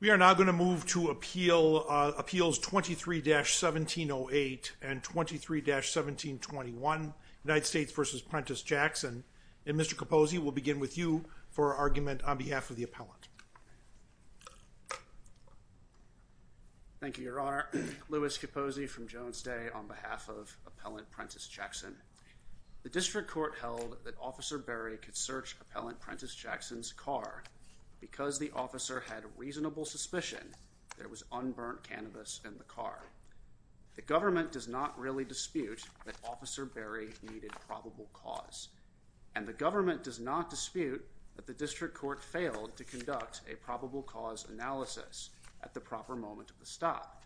We are now going to move to Appeals 23-1708 and 23-1721, United States v. Prentiss Jackson. And Mr. Capozzi, we'll begin with you for argument on behalf of the appellant. Thank you, Your Honor. Louis Capozzi from Jones Day on behalf of Appellant Prentiss Jackson. The District Court held that Officer Berry could search Appellant Prentiss Jackson's car because the officer had reasonable suspicion there was unburnt cannabis in the car. The government does not really dispute that Officer Berry needed probable cause, and the probable cause analysis at the proper moment of the stop.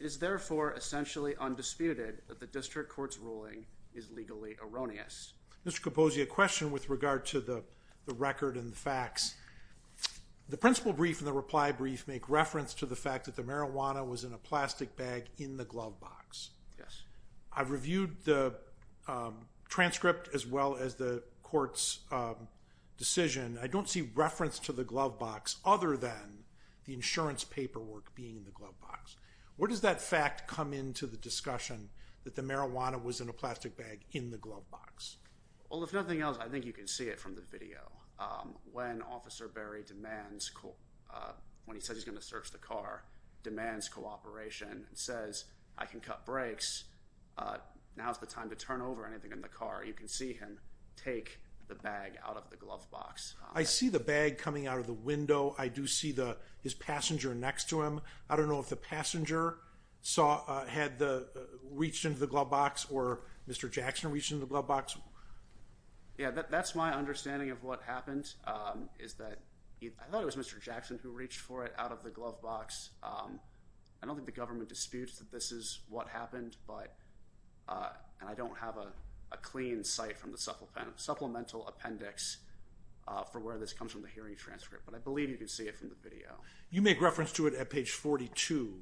It is therefore essentially undisputed that the District Court's ruling is legally erroneous. Mr. Capozzi, a question with regard to the record and the facts. The principle brief and the reply brief make reference to the fact that the marijuana was in a plastic bag in the glove box. I've reviewed the transcript as well as the court's decision. I don't see reference to the glove box other than the insurance paperwork being in the glove box. Where does that fact come into the discussion that the marijuana was in a plastic bag in the glove box? Well, if nothing else, I think you can see it from the video. When Officer Berry demands, when he says he's going to search the car, demands cooperation and says, I can cut brakes, now's the time to turn over anything in the car, you can see him take the bag out of the glove box. I see the bag coming out of the window. I do see his passenger next to him. I don't know if the passenger had reached into the glove box or Mr. Jackson reached into the glove box. That's my understanding of what happened. I thought it was Mr. Jackson who reached for it out of the glove box. I don't think the government disputes that this is what happened, and I don't have a clean site from the supplemental appendix for where this comes from, the hearing transcript, but I believe you can see it from the video. You make reference to it at page 42.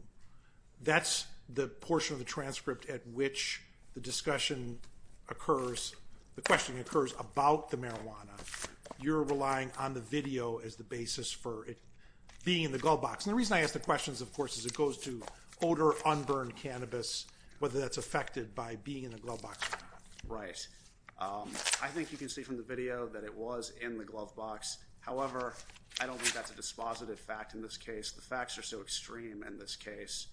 That's the portion of the transcript at which the discussion occurs, the question occurs about the marijuana. You're relying on the video as the basis for it being in the glove box, and the reason I ask the questions, of course, is it goes to odor, unburned cannabis, whether that's affected by being in the glove box or not. Right. I think you can see from the video that it was in the glove box. However, I don't think that's a dispositive fact in this case. The facts are so extreme in this case,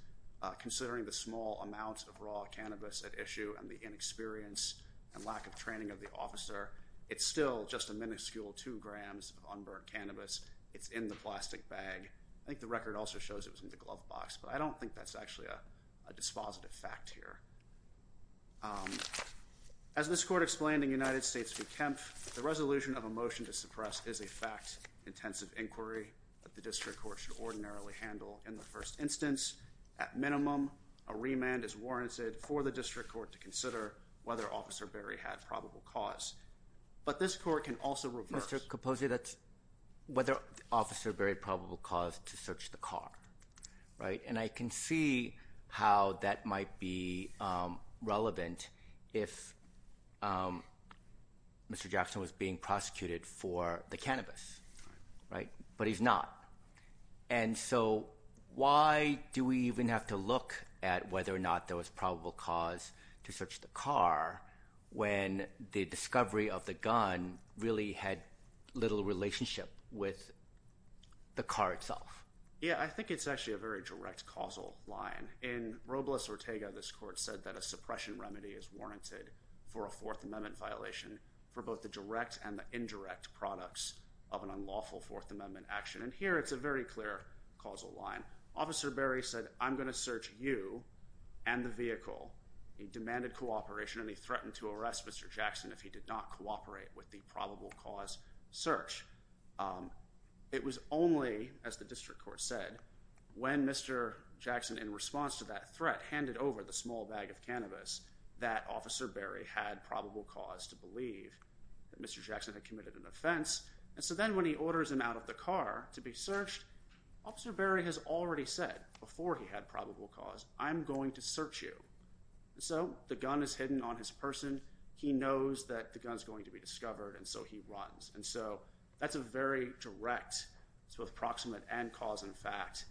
considering the small amount of raw cannabis at issue and the inexperience and lack of training of the officer. It's still just a minuscule two grams of unburned cannabis. It's in the plastic bag. I think the record also shows it was in the glove box, but I don't think that's actually a dispositive fact here. As this court explained in United States v. Kempf, the resolution of a motion to suppress is a fact-intensive inquiry that the district court should ordinarily handle. In the first instance, at minimum, a remand is warranted for the district court to consider whether Officer Berry had probable cause. But this court can also reverse- Mr. Capozza, that's whether Officer Berry had probable cause to search the car, right? And I can see how that might be relevant if Mr. Jackson was being prosecuted for the cannabis. But he's not. And so, why do we even have to look at whether or not there was probable cause to search the car when the discovery of the gun really had little relationship with the car itself? Yeah, I think it's actually a very direct causal line. In Robles-Ortega, this court said that a suppression remedy is warranted for a Fourth Amendment violation for both the direct and the indirect products of an unlawful Fourth Amendment action. And here, it's a very clear causal line. Officer Berry said, I'm going to search you and the vehicle. He demanded cooperation, and he threatened to arrest Mr. Jackson if he did not cooperate with the probable cause search. It was only, as the district court said, when Mr. Jackson, in response to that threat, handed over the small bag of cannabis that Officer Berry had probable cause to believe that Mr. Jackson had committed an offense. And so then, when he orders him out of the car to be searched, Officer Berry has already said before he had probable cause, I'm going to search you. So the gun is hidden on his person. He knows that the gun's going to be discovered, and so he runs. And so that's a very direct, it's both proximate and cause and fact,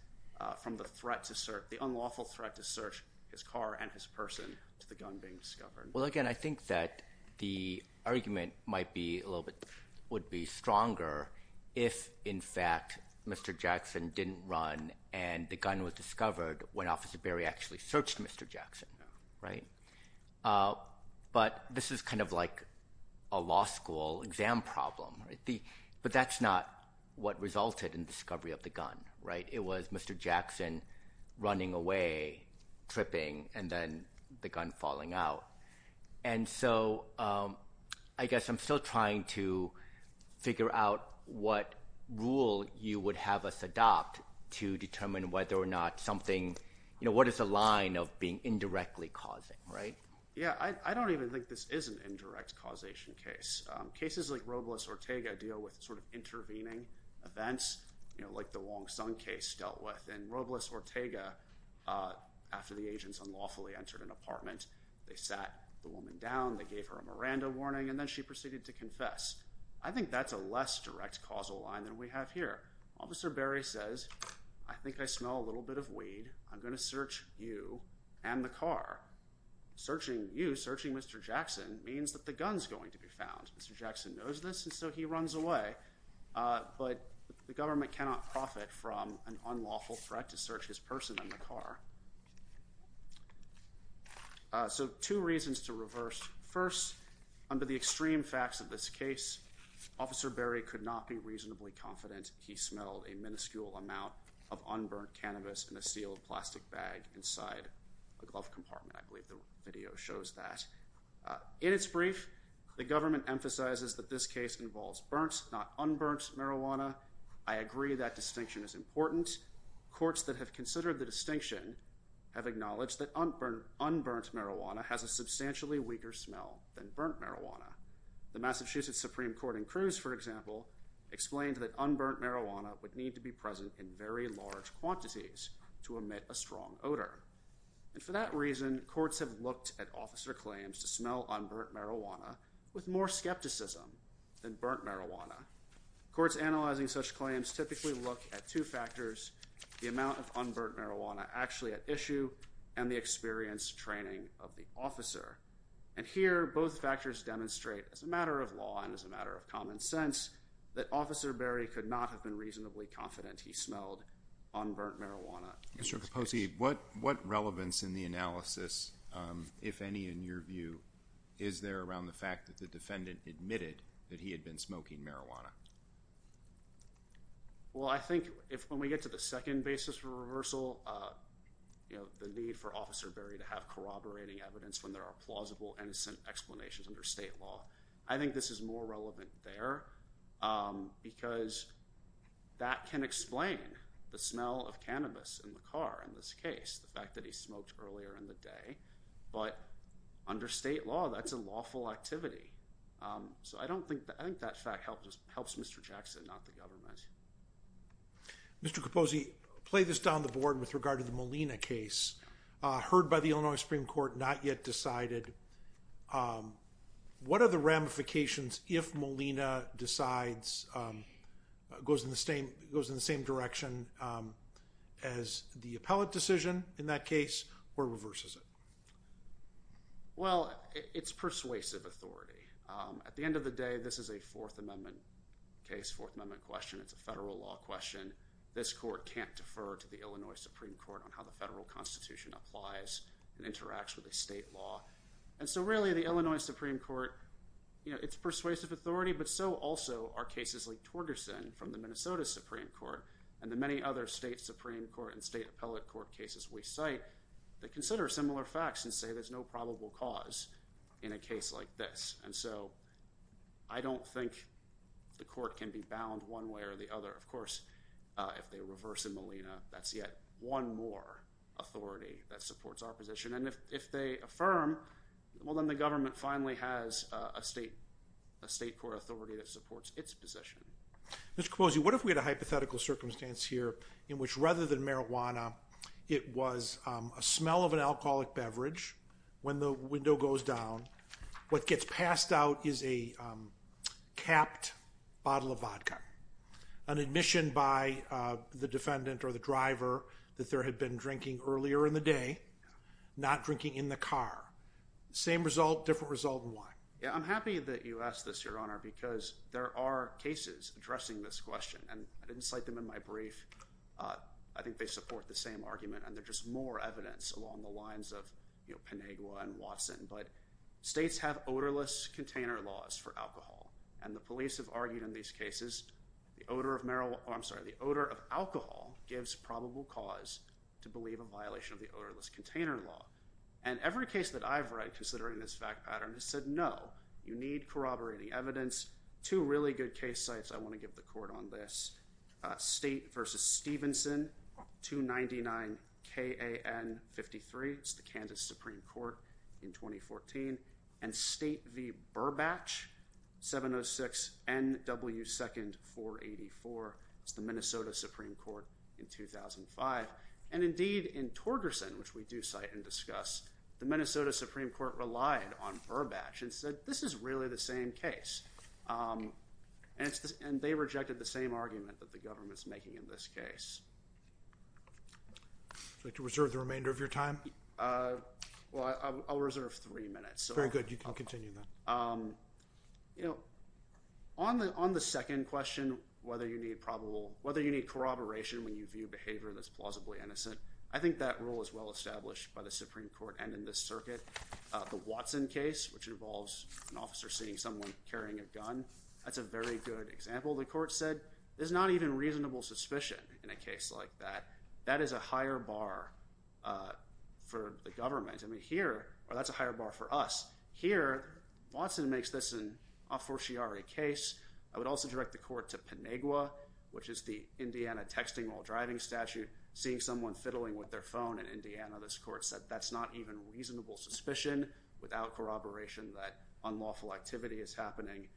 from the threat to search, the unlawful threat to search his car and his person to the gun being discovered. Well, again, I think that the argument might be a little bit, would be stronger if, in fact, Mr. Jackson didn't run and the gun was discovered when Officer Berry actually searched Mr. Jackson, right? But this is kind of like a law school exam problem, right? But that's not what resulted in the discovery of the gun, right? It was Mr. Jackson running away, tripping, and then the gun falling out. And so I guess I'm still trying to figure out what rule you would have us adopt to determine whether or not something, you know, what is the line of being indirectly causing, right? Yeah, I don't even think this is an indirect causation case. Cases like Robles-Ortega deal with sort of intervening events, you know, like the Wong Sung case dealt with. And Robles-Ortega, after the agents unlawfully entered an apartment, they sat the woman down, they gave her a Miranda warning, and then she proceeded to confess. I think that's a less direct causal line than we have here. Officer Berry says, I think I smell a little bit of weed. I'm going to search you and the car. Searching you, searching Mr. Jackson, means that the gun's going to be found. Mr. Jackson knows this, and so he runs away. But the government cannot profit from an unlawful threat to search his person and the car. So two reasons to reverse. First, under the extreme facts of this case, Officer Berry could not be reasonably confident he smelled a minuscule amount of unburnt cannabis in a sealed plastic bag inside a glove compartment. I believe the video shows that. In its brief, the government emphasizes that this case involves burnt, not unburnt, marijuana. I agree that distinction is important. Courts that have considered the distinction have acknowledged that unburnt marijuana has a substantially weaker smell than burnt marijuana. The Massachusetts Supreme Court in Cruz, for example, explained that unburnt marijuana would need to be present in very large quantities to emit a strong odor. And for that reason, courts have looked at officer claims to smell unburnt marijuana with more skepticism than burnt marijuana. Courts analyzing such claims typically look at two factors, the amount of unburnt marijuana actually at issue and the experience training of the officer. And here, both factors demonstrate, as a matter of law and as a matter of common sense, that Officer Berry could not have been reasonably confident he smelled unburnt marijuana. Mr. Capossi, what relevance in the analysis, if any in your view, is there around the fact that the defendant admitted that he had been smoking marijuana? Well, I think if when we get to the second basis for reversal, you know, the need for plausible, innocent explanations under state law, I think this is more relevant there because that can explain the smell of cannabis in the car in this case, the fact that he smoked earlier in the day. But under state law, that's a lawful activity. So I don't think that, I think that fact helps Mr. Jackson, not the government. Mr. Capossi, play this down the board with regard to the Molina case. Heard by the Illinois Supreme Court, not yet decided. What are the ramifications if Molina decides, goes in the same direction as the appellate decision in that case, or reverses it? Well, it's persuasive authority. At the end of the day, this is a Fourth Amendment case, Fourth Amendment question, it's a federal law question. This court can't defer to the Illinois Supreme Court on how the federal constitution applies and interacts with the state law. And so really the Illinois Supreme Court, you know, it's persuasive authority, but so also are cases like Torgerson from the Minnesota Supreme Court and the many other state Supreme Court and state appellate court cases we cite that consider similar facts and say there's no probable cause in a case like this. And so I don't think the court can be bound one way or the other. Of course, if they reverse the Molina, that's yet one more authority that supports our position. And if they affirm, well then the government finally has a state court authority that supports its position. Mr. Kapossi, what if we had a hypothetical circumstance here in which rather than marijuana, it was a smell of an alcoholic beverage, when the window goes down, what gets passed out is a capped bottle of vodka, an admission by the defendant or the driver that there had been drinking earlier in the day, not drinking in the car. Same result, different result in wine. Yeah, I'm happy that you asked this, Your Honor, because there are cases addressing this question. And I didn't cite them in my brief. I think they support the same argument and they're just more evidence along the lines of, you know, Pinagua and Watson. But states have odorless container laws for alcohol. And the police have argued in these cases, the odor of alcohol gives probable cause to believe a violation of the odorless container law. And every case that I've read considering this fact pattern has said, no, you need corroborating evidence. Two really good case sites I want to give the court on this. State v. Stevenson, 299KAN53, it's the Kansas Supreme Court in 2014. And State v. Burbatch, 706NW2nd484, it's the Minnesota Supreme Court in 2005. And indeed, in Torgerson, which we do cite and discuss, the Minnesota Supreme Court relied on Burbatch and said, this is really the same case. And they rejected the same argument that the government's making in this case. Would you like to reserve the remainder of your time? Well, I'll reserve three minutes. Very good. You can continue then. You know, on the second question, whether you need corroboration when you view behavior that's plausibly innocent, I think that rule is well established by the Supreme Court and in this circuit. The Watson case, which involves an officer seeing someone carrying a gun, that's a very good example. The court said, there's not even reasonable suspicion in a case like that. That is a higher bar for the government. I mean, here, that's a higher bar for us. Here, Watson makes this an aforciare case. I would also direct the court to Penegua, which is the Indiana texting while driving statute. Seeing someone fiddling with their phone in Indiana, this court said, that's not even reasonable suspicion. Without corroboration, that unlawful activity is happening.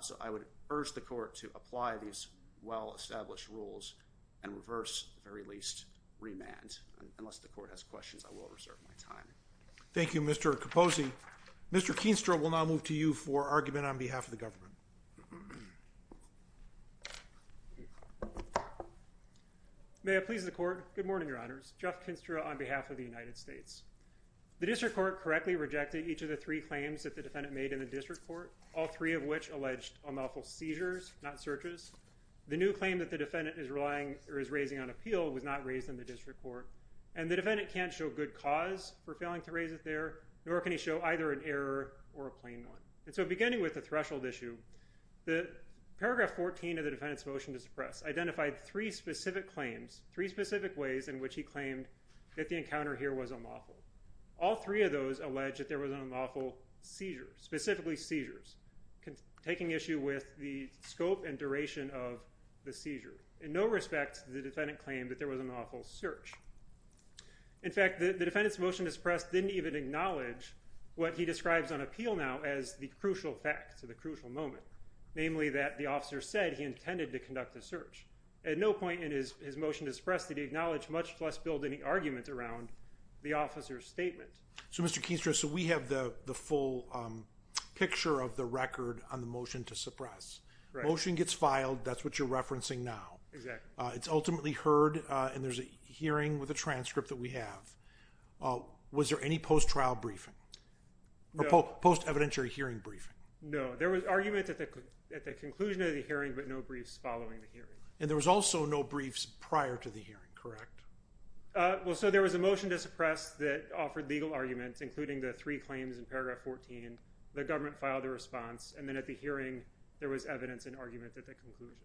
So, I would urge the court to apply these well-established rules and reverse, at the very least, remand. Unless the court has questions, I will reserve my time. Thank you, Mr. Capozzi. Mr. Keenstra will now move to you for argument on behalf of the government. May it please the court. Good morning, Your Honors. Jeff Keenstra on behalf of the United States. The district court correctly rejected each of the three claims that the defendant made in the district court, all three of which alleged unlawful seizures, not searches. The new claim that the defendant is raising on appeal was not raised in the district court. And the defendant can't show good cause for failing to raise it there, nor can he show either an error or a plain one. And so, beginning with the threshold issue, paragraph 14 of the defendant's motion to suppress identified three specific claims, three specific ways in which he claimed that the encounter here was unlawful. All three of those allege that there was an unlawful seizure, specifically seizures, taking issue with the scope and duration of the seizure. In no respect to the defendant claimed that there was an unlawful search. In fact, the defendant's motion to suppress didn't even acknowledge what he describes on appeal now as the crucial fact or the crucial moment, namely that the officer said he intended to conduct a search. At no point in his motion to suppress did he acknowledge much less build any argument around the officer's statement. So, Mr. Keenstra, so we have the full picture of the record on the motion to suppress. Right. Motion gets filed. That's what you're referencing now. Exactly. It's ultimately heard, and there's a hearing with a transcript that we have. Was there any post-trial briefing? No. Or post-evidentiary hearing briefing? No. There was argument at the conclusion of the hearing, but no briefs following the hearing. And there was also no briefs prior to the hearing, correct? Well, so there was a motion to suppress that offered legal arguments, including the three claims in paragraph 14. The government filed a response, and then at the hearing there was evidence and argument at the conclusion.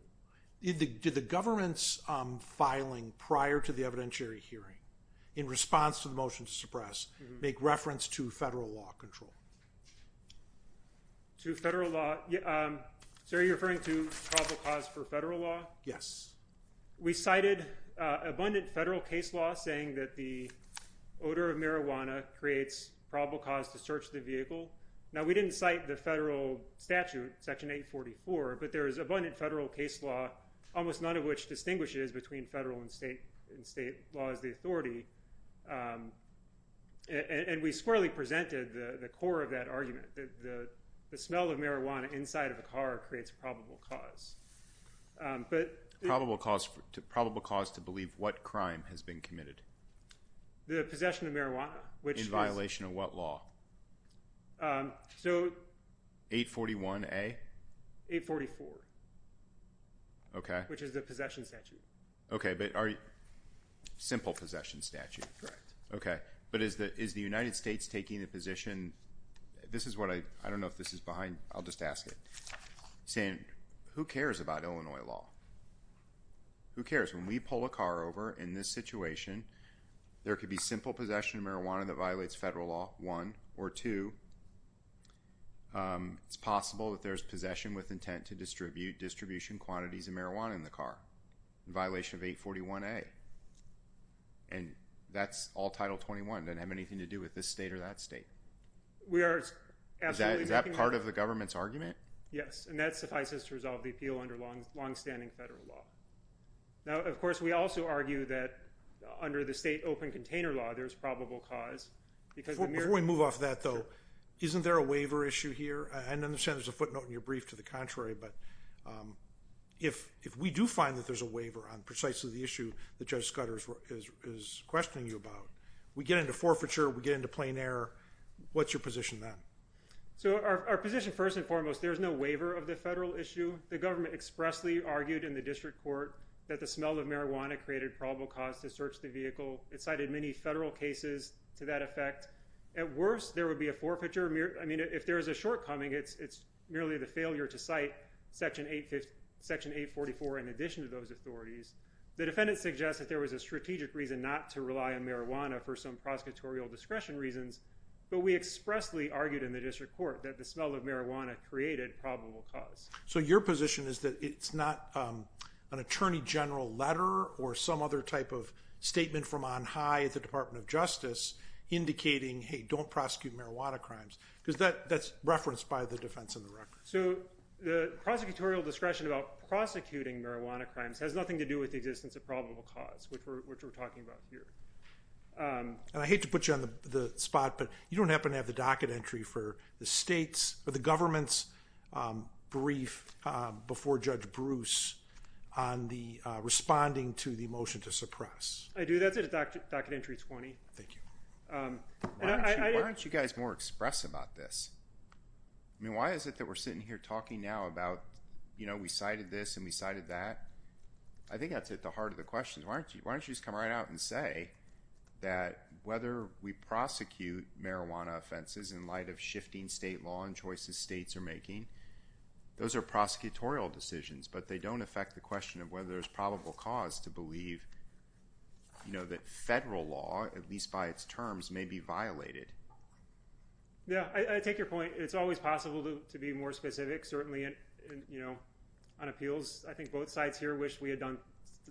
Did the government's filing prior to the evidentiary hearing in response to the motion to suppress make reference to federal law control? To federal law. Sir, are you referring to probable cause for federal law? Yes. We cited abundant federal case law saying that the odor of marijuana creates probable cause to search the vehicle. Now, we didn't cite the federal statute, Section 844, but there is abundant federal case law, almost none of which distinguishes between federal and state laws of authority. And we squarely presented the core of that argument, that the smell of marijuana inside of a car creates probable cause. Probable cause to believe what crime has been committed? The possession of marijuana. In violation of what law? So... 841A? 844. Okay. Which is the possession statute. Okay. But are you... Simple possession statute. Correct. Okay. But is the United States taking a position... This is what I... I don't know if this is behind... I'll just ask it. Saying, who cares about Illinois law? Who cares? When we pull a car over in this situation, there could be simple possession of marijuana that violates federal law, one. Or two, it's possible that there's possession with intent to distribute distribution quantities of marijuana in the car. In violation of 841A. And that's all Title 21. Doesn't have anything to do with this state or that state. We are absolutely... Is that part of the government's argument? Yes. And that suffices to resolve the appeal under longstanding federal law. Now, of course, we also argue that under the state open container law, there's probable cause because... Before we move off that, though, isn't there a waiver issue here? I understand there's a footnote in your brief to the contrary, but if we do find that there's a waiver on precisely the issue that Judge Scudder is questioning you about, we get into forfeiture, we get into plain error. What's your position then? So our position, first and foremost, there's no waiver of the federal issue. The government expressly argued in the district court that the smell of marijuana created probable cause to search the vehicle. It cited many federal cases to that effect. At worst, there would be a forfeiture. I mean, if there is a shortcoming, it's merely the failure to cite Section 844 in addition to those authorities. The defendant suggests that there was a strategic reason not to rely on marijuana for some prosecutorial discretion reasons, but we expressly argued in the district court that the smell of marijuana created probable cause. So your position is that it's not an attorney general letter or some other type of statement from on high at the Department of Justice indicating, hey, don't prosecute marijuana crimes, because that's referenced by the defense on the record. So the prosecutorial discretion about prosecuting marijuana crimes has nothing to do with the existence of probable cause, which we're talking about here. And I hate to put you on the spot, but you don't happen to have the docket entry for the state's or the government's brief before Judge Bruce on the responding to the motion to suppress. I do. That's at docket entry 20. Thank you. Why don't you guys more express about this? I mean, why is it that we're sitting here talking now about, you know, we cited this and we cited that? I think that's at the heart of the question. Why don't you just come right out and say that whether we prosecute marijuana offenses in light of shifting state law and choices states are making, those are prosecutorial decisions, but they don't affect the question of whether there's probable cause to believe that federal law, at least by its terms, may be violated. Yeah. I take your point. It's always possible to be more specific, certainly on appeals. I think both sides here wish we had done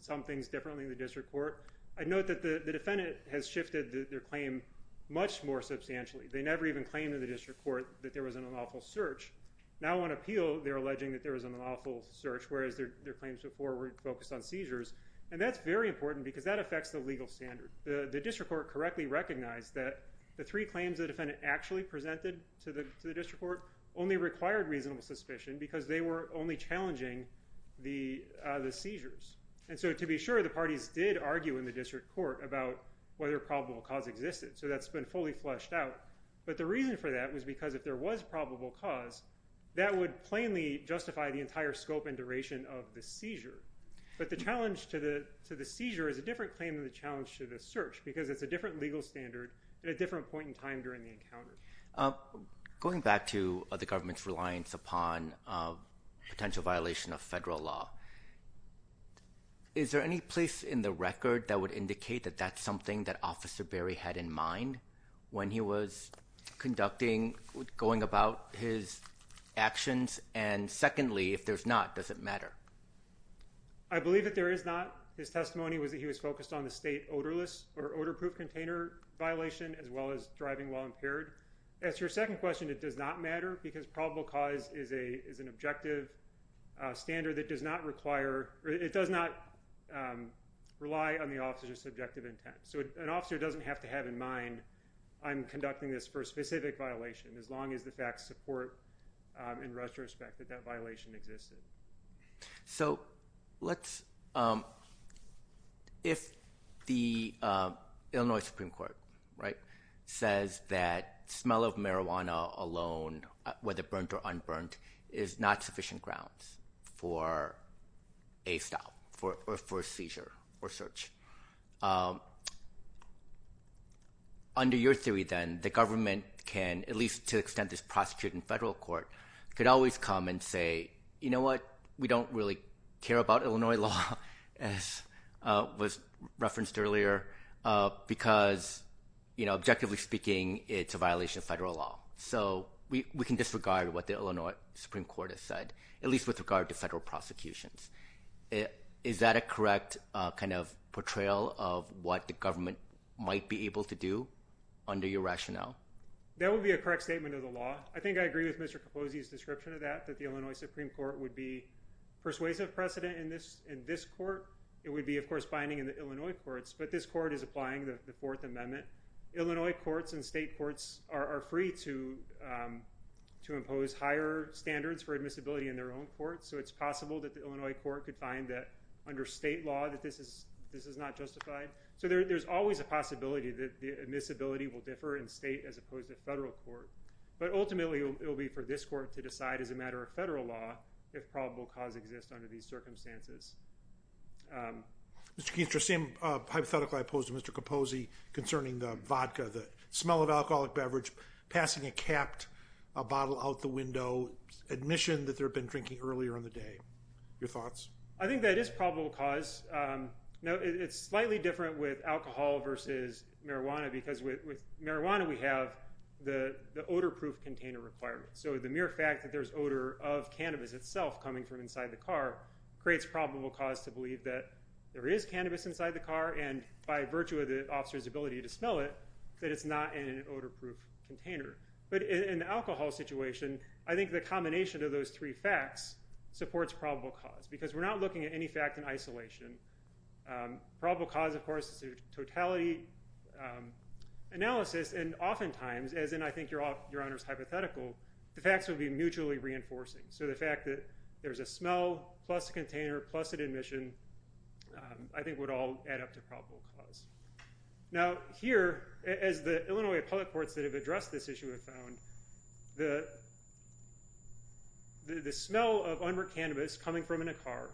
some things differently in the district court. I note that the defendant has shifted their claim much more substantially. They never even claimed in the district court that there was an unlawful search. Now on appeal, they're alleging that there was an unlawful search, whereas their claims before were focused on seizures. And that's very important because that affects the legal standard. The district court correctly recognized that the three claims the defendant actually presented to the district court only required reasonable suspicion because they were only challenging the seizures. And so to be sure, the parties did argue in the district court about whether probable cause existed. So that's been fully fleshed out. But the reason for that was because if there was probable cause, that would plainly justify the entire scope and duration of the seizure. But the challenge to the seizure is a different claim than the challenge to the search because it's a different legal standard at a different point in time during the encounter. Going back to the government's reliance upon potential violation of federal law, is there any place in the record that would indicate that that's something that Officer Berry had in mind when he was conducting, going about his actions? And secondly, if there's not, does it matter? I believe that there is not. His testimony was that he was focused on the state odorless or odor-proof container violation as well as driving while impaired. As to your second question, it does not matter because probable cause is an objective standard that does not require or it does not rely on the officer's subjective intent. So an officer doesn't have to have in mind, I'm conducting this for a specific violation as long as the facts support in retrospect that that violation existed. So if the Illinois Supreme Court says that smell of marijuana alone, whether burnt or unburnt, is not sufficient grounds for a stop or for a seizure or search, under your theory then, the government can, at least to the extent it's prosecuted in federal court, could always come and say, you know what, we don't really care about Illinois law as was referenced earlier because objectively speaking, it's a violation of federal law. So we can disregard what the Illinois Supreme Court has said, at least with regard to federal prosecutions. Is that a correct kind of portrayal of what the government might be able to do under your rationale? That would be a correct statement of the law. I think I agree with Mr. Capozzi's description of that, that the Illinois Supreme Court would be persuasive precedent in this court. It would be, of course, binding in the Illinois courts, but this court is applying the Fourth Amendment. Illinois courts and state courts are free to impose higher standards for admissibility in their own courts. So it's possible that the Illinois court could find that under state law that this is not justified. So there's always a possibility that the admissibility will differ in state as opposed to federal court. But ultimately, it will be for this court to decide as a matter of federal law if probable cause exists under these circumstances. Mr. Keenstra, same hypothetical I posed to Mr. Capozzi concerning the vodka, the smell of alcoholic beverage, passing a capped bottle out the window, admission that they had been drinking earlier in the day. Your thoughts? I think that is probable cause. It's slightly different with alcohol versus marijuana because with marijuana, we have the odor-proof container requirement. So the mere fact that there's odor of cannabis itself coming from inside the car creates probable cause to believe that there is cannabis inside the car and by virtue of the officer's ability to smell it, that it's not in an odor-proof container. But in the alcohol situation, I think the combination of those three facts supports probable cause because we're not looking at any fact in isolation. Probable cause, of course, is a totality analysis. And oftentimes, as in I think Your Honor's hypothetical, the facts would be mutually reinforcing. So the fact that there's a smell plus a container plus an admission, I think would all add up to probable cause. Now here, as the Illinois public courts that have addressed this issue have found, the smell of unburnt cannabis coming from in a car,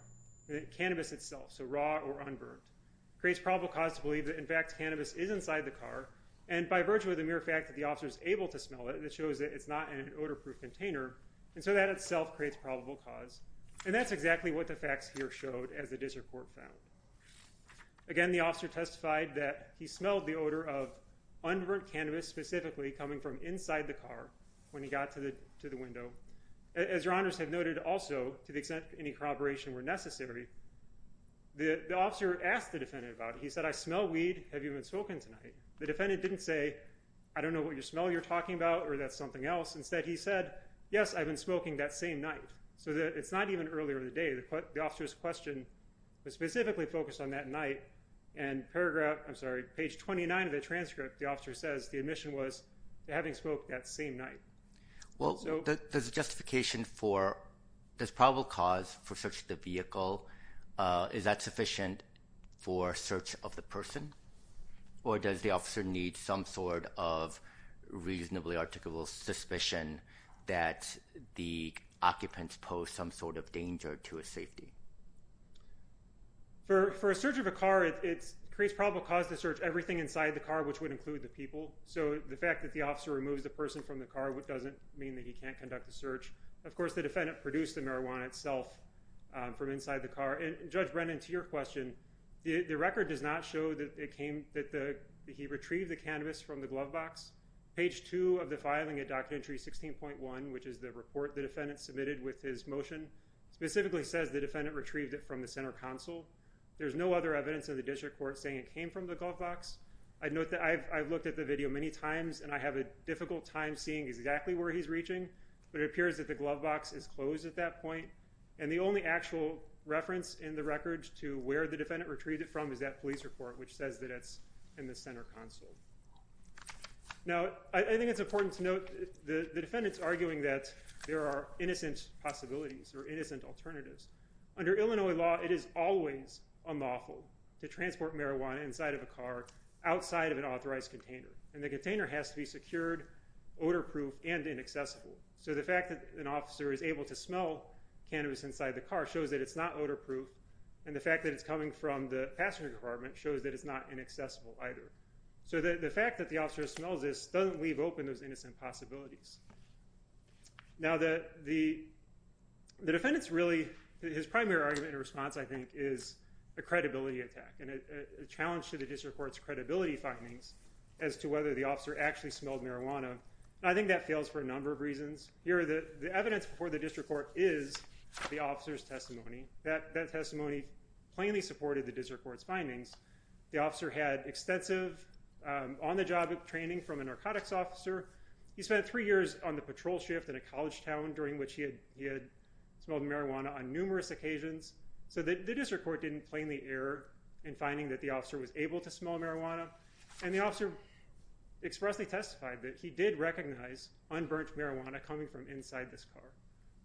cannabis itself, so raw or unburnt, creates probable cause to believe that in fact cannabis is inside the car and by virtue of the mere fact that the officer is able to smell it, that shows that it's not in an odor-proof container. And so that itself creates probable cause. And that's exactly what the facts here showed as the district court found. Again, the officer testified that he smelled the odor of unburnt cannabis specifically coming from inside the car when he got to the window. As Your Honors have noted also, to the extent any corroboration were necessary, the officer asked the defendant about it. He said, I smell weed. Have you been smoking tonight? The defendant didn't say, I don't know what smell you're talking about or that's something else. Instead he said, yes, I've been smoking that same night. So it's not even earlier in the day. The officer's question was specifically focused on that night. And paragraph, I'm sorry, page 29 of the transcript, the officer says the admission was having smoked that same night. Well, there's a justification for this probable cause for searching the vehicle. Is that sufficient for search of the person? Or does the officer need some sort of reasonably articulable suspicion that the occupants pose some sort of danger to his safety? For a search of a car, it creates probable cause to search everything inside the car, which would include the people. So the fact that the officer removes the person from the car doesn't mean that he can't conduct the search. Of course, the defendant produced the marijuana itself from inside the car. And Judge Brennan, to your question, the record does not show that it came, that he retrieved the cannabis from the glove box. Page two of the filing of Documentary 16.1, which is the report the defendant submitted with his motion, specifically says the defendant retrieved it from the center console. There's no other evidence of the district court saying it came from the glove box. I note that I've looked at the video many times, and I have a difficult time seeing exactly where he's reaching. But it appears that the glove box is closed at that point. And the only actual reference in the record to where the defendant retrieved it from is that police report, which says that it's in the center console. Now, I think it's important to note the defendant's arguing that there are innocent possibilities or innocent alternatives. Under Illinois law, it is always unlawful to transport marijuana inside of a car outside of an authorized container. And the container has to be secured, odor-proof, and inaccessible. So the fact that an officer is able to smell cannabis inside the car shows that it's not odor-proof, and the fact that it's coming from the passenger compartment shows that it's not inaccessible either. So the fact that the officer smells this doesn't leave open those innocent possibilities. Now, the defendant's primary argument in response, I think, is a credibility attack and a challenge to the district court's credibility findings as to whether the officer actually smelled marijuana. I think that fails for a number of reasons. Here, the evidence before the district court is the officer's testimony. That testimony plainly supported the district court's findings. The officer had extensive on-the-job training from a narcotics officer. He spent three years on the patrol shift in a college town during which he had smelled marijuana on numerous occasions. So the district court didn't plainly err in finding that the officer was able to smell marijuana. And the officer expressly testified that he did recognize unburnt marijuana coming from inside this car.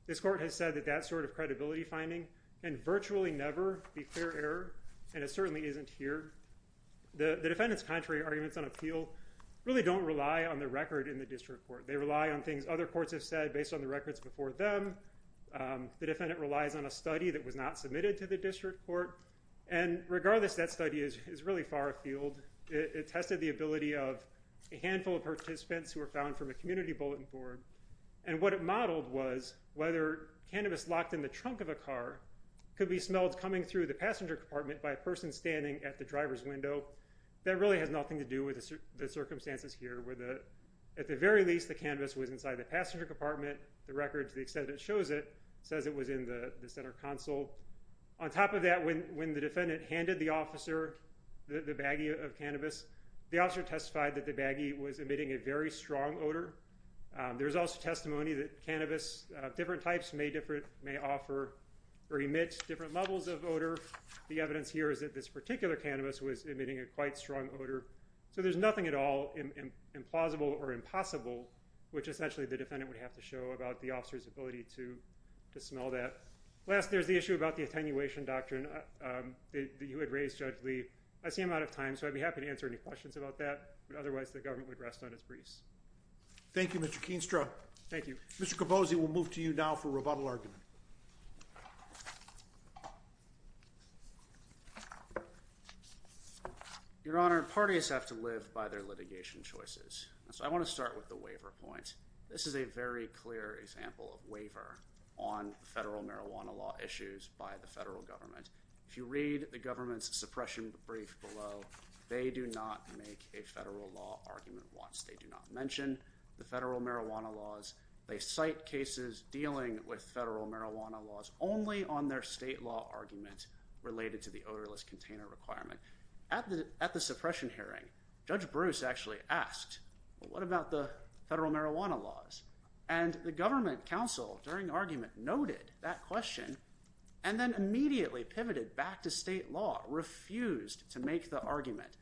This court has said that that sort of credibility finding can virtually never be fair error, and it certainly isn't here. The defendant's contrary arguments on appeal really don't rely on the record in the district court. They rely on things other courts have said based on the records before them. The defendant relies on a study that was not submitted to the district court. And regardless, that study is really far afield. It tested the ability of a handful of participants who were found from a community bulletin board. And what it modeled was whether cannabis locked in the trunk of a car could be smelled coming through the passenger compartment by a person standing at the driver's window. That really has nothing to do with the circumstances here where, at the very least, the cannabis was inside the passenger compartment. The record, to the extent it shows it, says it was in the center console. On top of that, when the defendant handed the officer the baggie of cannabis, the officer testified that the baggie was emitting a very strong odor. There is also testimony that cannabis of different types may offer or emit different levels of odor. The evidence here is that this particular cannabis was emitting a quite strong odor. So there's nothing at all implausible or impossible, which essentially the defendant would have to show about the officer's ability to smell that. Last, there's the issue about the attenuation doctrine that you had raised, Judge Lee. I see I'm out of time, so I'd be happy to answer any questions about that. But otherwise, the government would rest on its briefs. Thank you, Mr. Keenstra. Thank you. Mr. Capozzi, we'll move to you now for rebuttal argument. Your Honor, parties have to live by their litigation choices. So I want to start with the waiver point. This is a very clear example of waiver on federal marijuana law issues by the federal government. If you read the government's suppression brief below, they do not make a federal law argument once. They do not mention the federal marijuana laws. They cite cases dealing with federal marijuana laws only on their state law argument related to the odorless container requirement. At the suppression hearing, Judge Bruce actually asked, well, what about the federal marijuana laws? And the government counsel during argument noted that question and then immediately pivoted back to state law, refused to make the argument.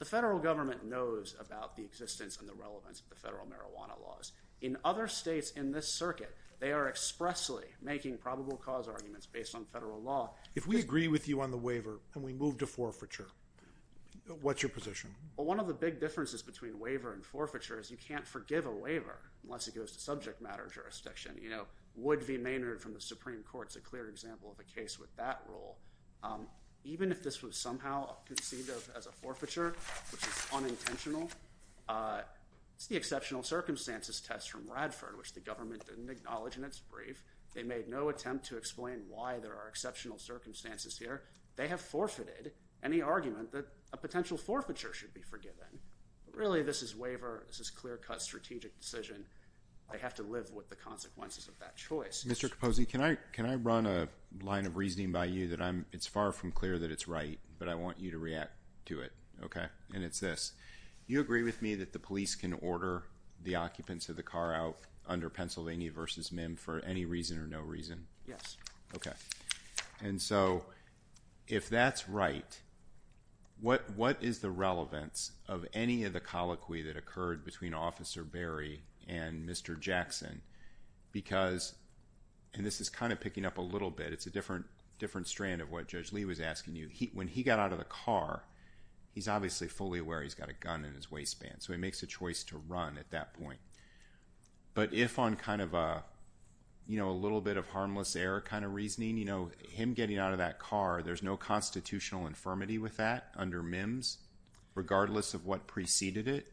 The federal government knows about the existence and the relevance of the federal marijuana laws. In other states in this circuit, they are expressly making probable cause arguments based on federal law. If we agree with you on the waiver and we move to forfeiture, what's your position? Well, one of the big differences between waiver and forfeiture is you can't forgive a waiver unless it goes to subject matter jurisdiction. You know, Wood v. Maynard from the Supreme Court is a clear example of a case with that rule. Even if this was somehow conceived of as a forfeiture, which is unintentional, it's the exceptional circumstances test from Radford, which the government didn't acknowledge in its brief. They made no attempt to explain why there are exceptional circumstances here. They have forfeited any argument that a potential forfeiture should be forgiven. Really, this is waiver. This is clear-cut strategic decision. They have to live with the consequences of that choice. Mr. Capozzi, can I run a line of reasoning by you that it's far from clear that it's right, but I want you to react to it? Okay. And it's this. You agree with me that the police can order the occupants of the car out under Pennsylvania v. MIM for any reason or no reason? Yes. Okay. And so, if that's right, what is the relevance of any of the colloquy that occurred between Officer Berry and Mr. Jackson? Because, and this is kind of picking up a little bit, it's a different strand of what Judge Lee was asking you. When he got out of the car, he's obviously fully aware he's got a gun in his waistband, so he makes a choice to run at that point. But if on kind of a little bit of harmless error kind of reasoning, him getting out of that car, there's no constitutional infirmity with that under MIMS, regardless of what preceded it,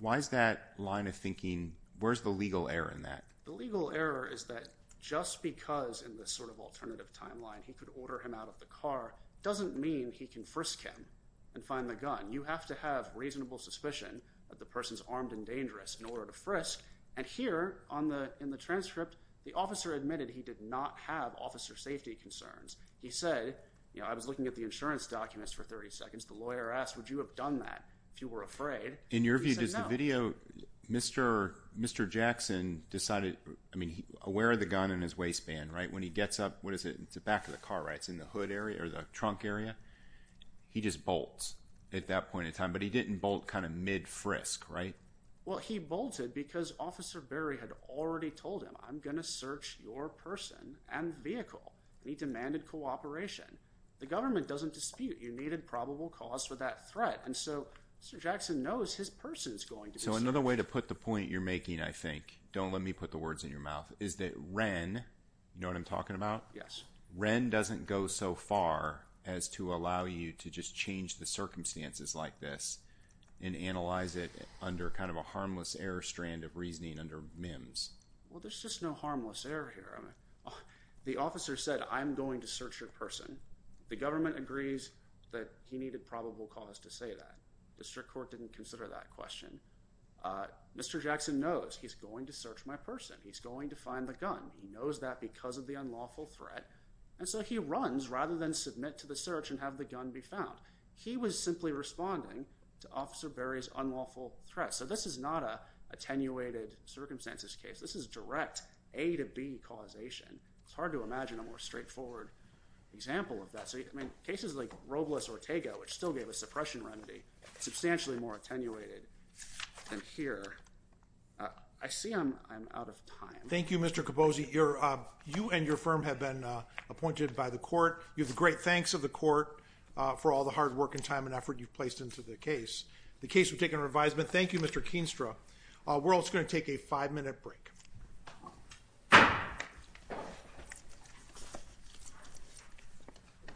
why is that line of thinking, where's the legal error in that? The legal error is that just because in this sort of alternative timeline he could order him out of the car doesn't mean he can frisk him and find the gun. You have to have reasonable suspicion that the person's armed and dangerous in order to frisk. And here, in the transcript, the officer admitted he did not have officer safety concerns. He said, you know, I was looking at the insurance documents for 30 seconds. The lawyer asked, would you have done that if you were afraid? In your view, does the video, Mr. Jackson decided, I mean, aware of the gun in his waistband, right? When he gets up, what is it, it's the back of the car, right? It's in the hood area or the trunk area. He just bolts at that point in time. But he didn't bolt kind of mid-frisk, right? Well, he bolted because Officer Berry had already told him, I'm going to search your person and vehicle. And he demanded cooperation. The government doesn't dispute. You needed probable cause for that threat. And so, Mr. Jackson knows his person is going to be searched. So, another way to put the point you're making, I think, don't let me put the words in your mouth, is that Wren, you know what I'm talking about? Yes. Wren doesn't go so far as to allow you to just change the circumstances like this and analyze it under kind of a harmless error strand of reasoning under MIMS. Well, there's just no harmless error here. The officer said, I'm going to search your person. The government agrees that he needed probable cause to say that. District Court didn't consider that question. Mr. Jackson knows he's going to search my person. He's going to find the gun. He knows that because of the unlawful threat. And so, he runs rather than submit to the search and have the gun be found. He was simply responding to Officer Berry's unlawful threat. So, this is not an attenuated circumstances case. This is direct A to B causation. It's hard to imagine a more straightforward example of that. I mean, cases like Robles-Ortega, which still gave a suppression remedy, substantially more attenuated than here. I see I'm out of time. Thank you, Mr. Capozzi. You and your firm have been appointed by the court. You have the great thanks of the court for all the hard work and time and effort you've placed into the case. The case will take a revisal. Thank you, Mr. Keenstra. We're also going to take a five-minute break.